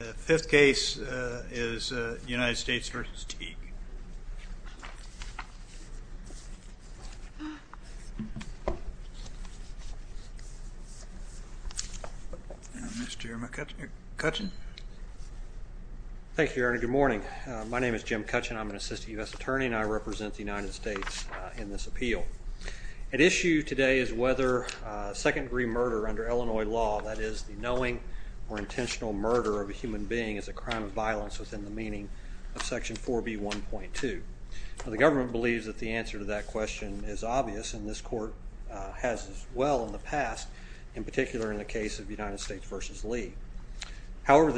The fifth case is United States v. Teague. Mr. Jeremy Cutchin. Thank you, Your Honor. Good morning. My name is Jim Cutchin. I'm an assistant U.S. attorney, and I represent the United States in this appeal. At issue today is whether second-degree murder under Illinois law, that is, the knowing or intentional murder of a human being is a crime of violence within the meaning of Section 4B1.2. The government believes that the answer to that question is obvious, and this Court has as well in the past, in particular in the case of United States v. Lee. Now,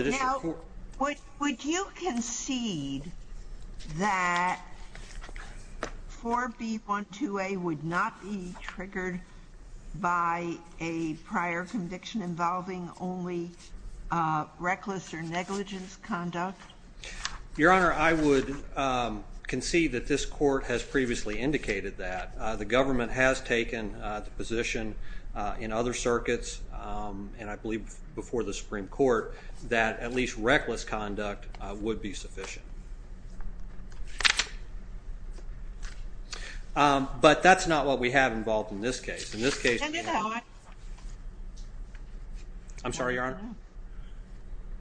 would you concede that 4B1.2a would not be triggered by a prior conviction involving only reckless or negligence conduct? Your Honor, I would concede that this Court has previously indicated that. The government has taken the position in other circuits, and I believe before the Supreme Court, that at least reckless conduct would be sufficient. But that's not what we have involved in this case. In this case... I'm sorry, Your Honor?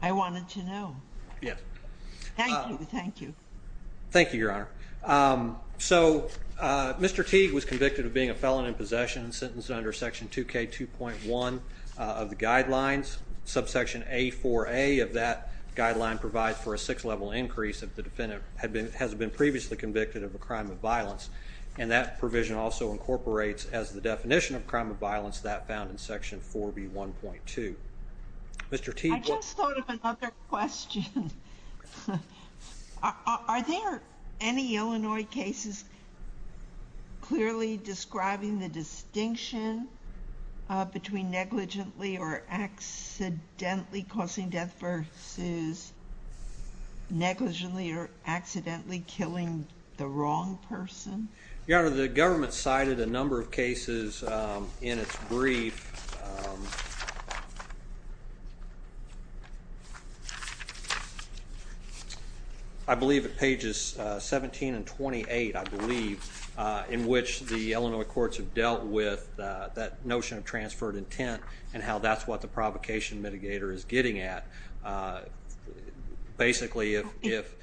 I wanted to know. Yes. Thank you, thank you. Thank you, Your Honor. So, Mr. Teague was convicted of being a felon in possession and sentenced under Section 2K2.1 of the guidelines. Subsection A4a of that guideline provides for a six-level increase if the defendant has been previously convicted of a crime of violence. And that provision also incorporates as the definition of crime of violence that found in Section 4B1.2. Mr. Teague... I just thought of another question. Are there any Illinois cases clearly describing the distinction between negligently or accidentally causing death versus negligently or accidentally killing the wrong person? Your Honor, the government cited a number of cases in its brief. I believe at pages 17 and 28, I believe, in which the Illinois courts have dealt with that notion of transferred intent and how that's what the provocation mitigator is getting at. Basically, if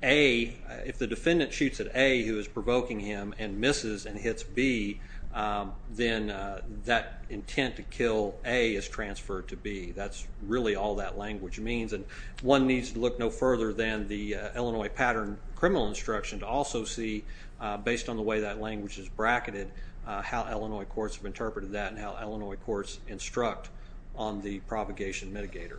the defendant shoots at A who is provoking him and misses and hits B, then that intent to kill A is transferred to B. That's really all that language means. And one needs to look no further than the Illinois pattern criminal instruction to also see, based on the way that language is bracketed, how Illinois courts have interpreted that and how Illinois courts instruct on the propagation mitigator.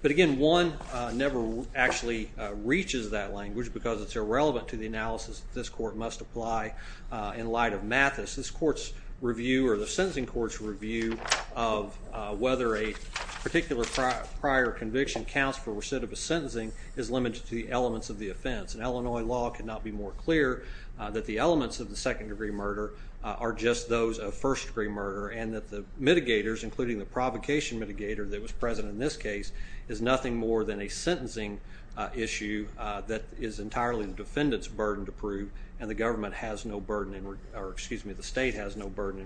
But again, one never actually reaches that language because it's irrelevant to the analysis that this court must apply in light of Mathis. This court's review or the sentencing court's review of whether a particular prior conviction counts for recidivist sentencing is limited to the elements of the offense. And Illinois law could not be more clear that the elements of the second-degree murder are just those of first-degree murder and that the mitigators, including the provocation mitigator that was present in this case, is nothing more than a sentencing issue that is entirely the defendant's burden to prove, and the state has no burden in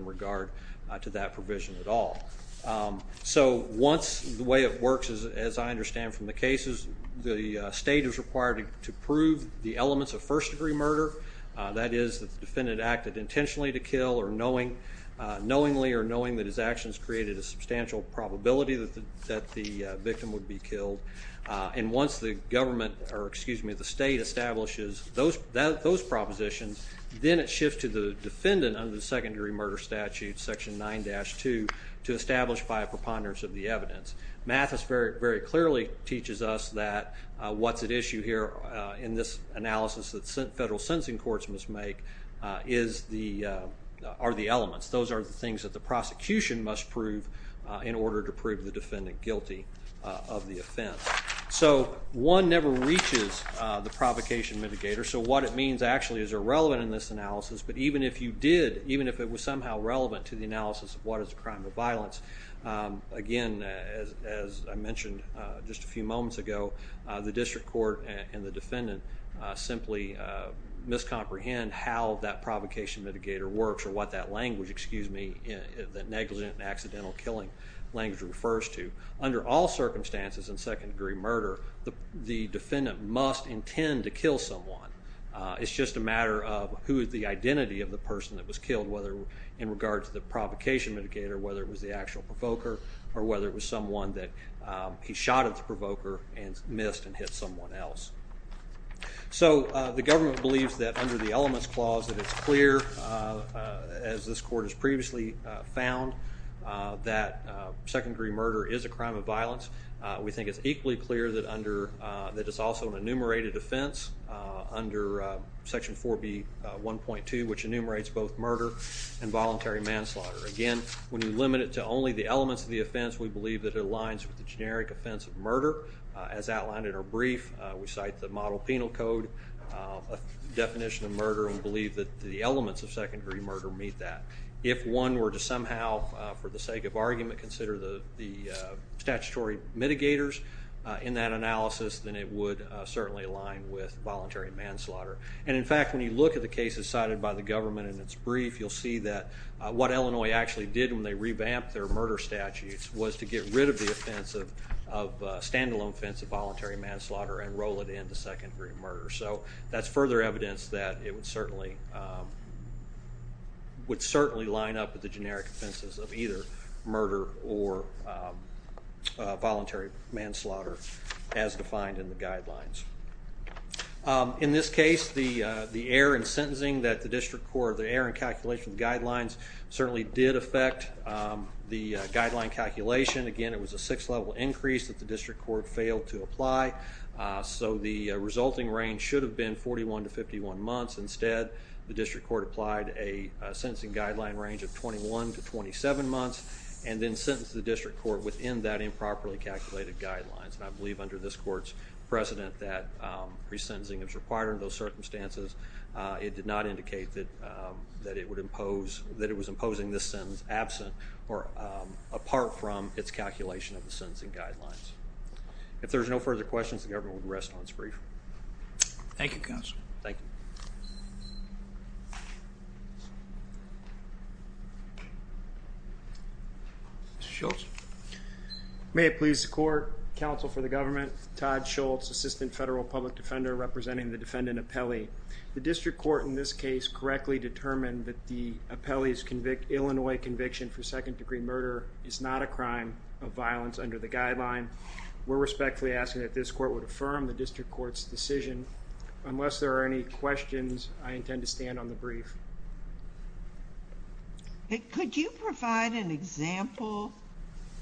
regard to that provision at all. So once the way it works, as I understand from the cases, the state is required to prove the elements of first-degree murder. That is, the defendant acted intentionally to kill or knowingly or knowingly that his actions created a substantial probability that the victim would be killed. And once the government or, excuse me, the state establishes those propositions, then it shifts to the defendant under the second-degree murder statute, section 9-2, to establish by a preponderance of the evidence. Mathis very clearly teaches us that what's at issue here in this analysis that federal sentencing courts must make are the elements. Those are the things that the prosecution must prove in order to prove the defendant guilty of the offense. So one never reaches the provocation mitigator, so what it means actually is irrelevant in this analysis, but even if you did, even if it was somehow relevant to the analysis of what is a crime of violence, again, as I mentioned just a few moments ago, the district court and the defendant simply miscomprehend how that provocation mitigator works or what that language, excuse me, that negligent and accidental killing language refers to. Under all circumstances in second-degree murder, the defendant must intend to kill someone. It's just a matter of who is the identity of the person that was killed, and whether in regards to the provocation mitigator, whether it was the actual provoker or whether it was someone that he shot at the provoker and missed and hit someone else. So the government believes that under the elements clause that it's clear, as this court has previously found, that second-degree murder is a crime of violence. We think it's equally clear that it's also an enumerated offense under Section 4B.1.2, which enumerates both murder and voluntary manslaughter. Again, when you limit it to only the elements of the offense, we believe that it aligns with the generic offense of murder. As outlined in our brief, we cite the model penal code definition of murder and believe that the elements of second-degree murder meet that. If one were to somehow, for the sake of argument, consider the statutory mitigators in that analysis, then it would certainly align with voluntary manslaughter. In fact, when you look at the cases cited by the government in its brief, you'll see that what Illinois actually did when they revamped their murder statutes was to get rid of the stand-alone offense of voluntary manslaughter and roll it into second-degree murder. So that's further evidence that it would certainly line up with the generic offenses of either murder or voluntary manslaughter as defined in the guidelines. In this case, the error in sentencing that the district court, the error in calculation of the guidelines, certainly did affect the guideline calculation. Again, it was a sixth-level increase that the district court failed to apply. So the resulting range should have been 41 to 51 months. Instead, the district court applied a sentencing guideline range of 21 to 27 months and then sentenced the district court within that improperly calculated guidelines. And I believe under this court's precedent that resentencing is required under those circumstances. It did not indicate that it would impose, that it was imposing this sentence absent or apart from its calculation of the sentencing guidelines. If there's no further questions, the government will rest on its brief. Thank you, Counsel. Mr. Schultz. May it please the court, counsel for the government, Todd Schultz, Assistant Federal Public Defender representing the defendant, Apelli. The district court in this case correctly determined that the Apelli's Illinois conviction for second-degree murder is not a crime of violence under the guideline. We're respectfully asking that this court would affirm the district court's decision. Unless there are any questions, I intend to stand on the brief. Could you provide an example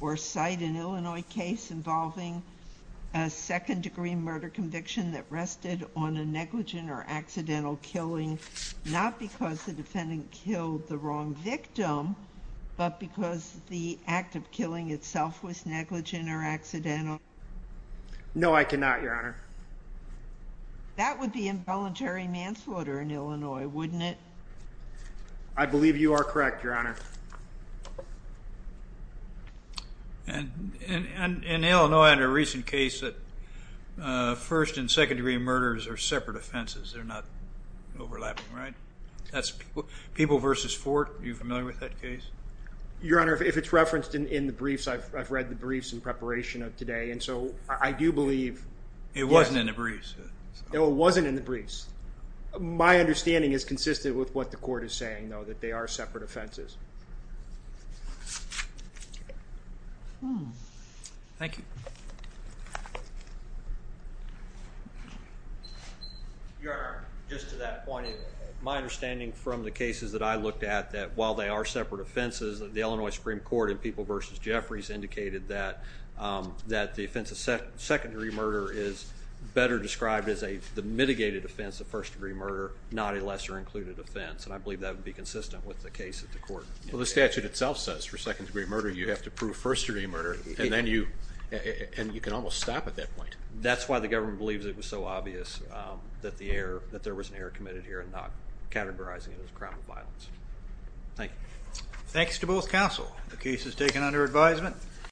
or cite an Illinois case involving a second-degree murder conviction that rested on a negligent or accidental killing, not because the defendant killed the wrong victim, but because the act of killing itself was negligent or accidental? No, I cannot, Your Honor. That would be involuntary manslaughter in Illinois, wouldn't it? I believe you are correct, Your Honor. In Illinois, in a recent case, first- and second-degree murders are separate offenses. They're not overlapping, right? People v. Fort, are you familiar with that case? Your Honor, if it's referenced in the briefs, I've read the briefs in preparation of today, and so I do believe... It wasn't in the briefs. It wasn't in the briefs. My understanding is consistent with what the court is saying, though, that they are separate offenses. Thank you. Your Honor, just to that point, my understanding from the cases that I looked at, that while they are separate offenses, the Illinois Supreme Court in People v. Jeffries indicated that the offense of second-degree murder is better described as the mitigated offense of first-degree murder, not a lesser-included offense, and I believe that would be consistent with the case at the court. Well, the statute itself says for second-degree murder, you have to prove first-degree murder, and then you can almost stop at that point. That's why the government believes it was so obvious that there was an error committed here and not categorizing it as a crime of violence. Thank you. Thanks to both counsel. The case is taken under advisement.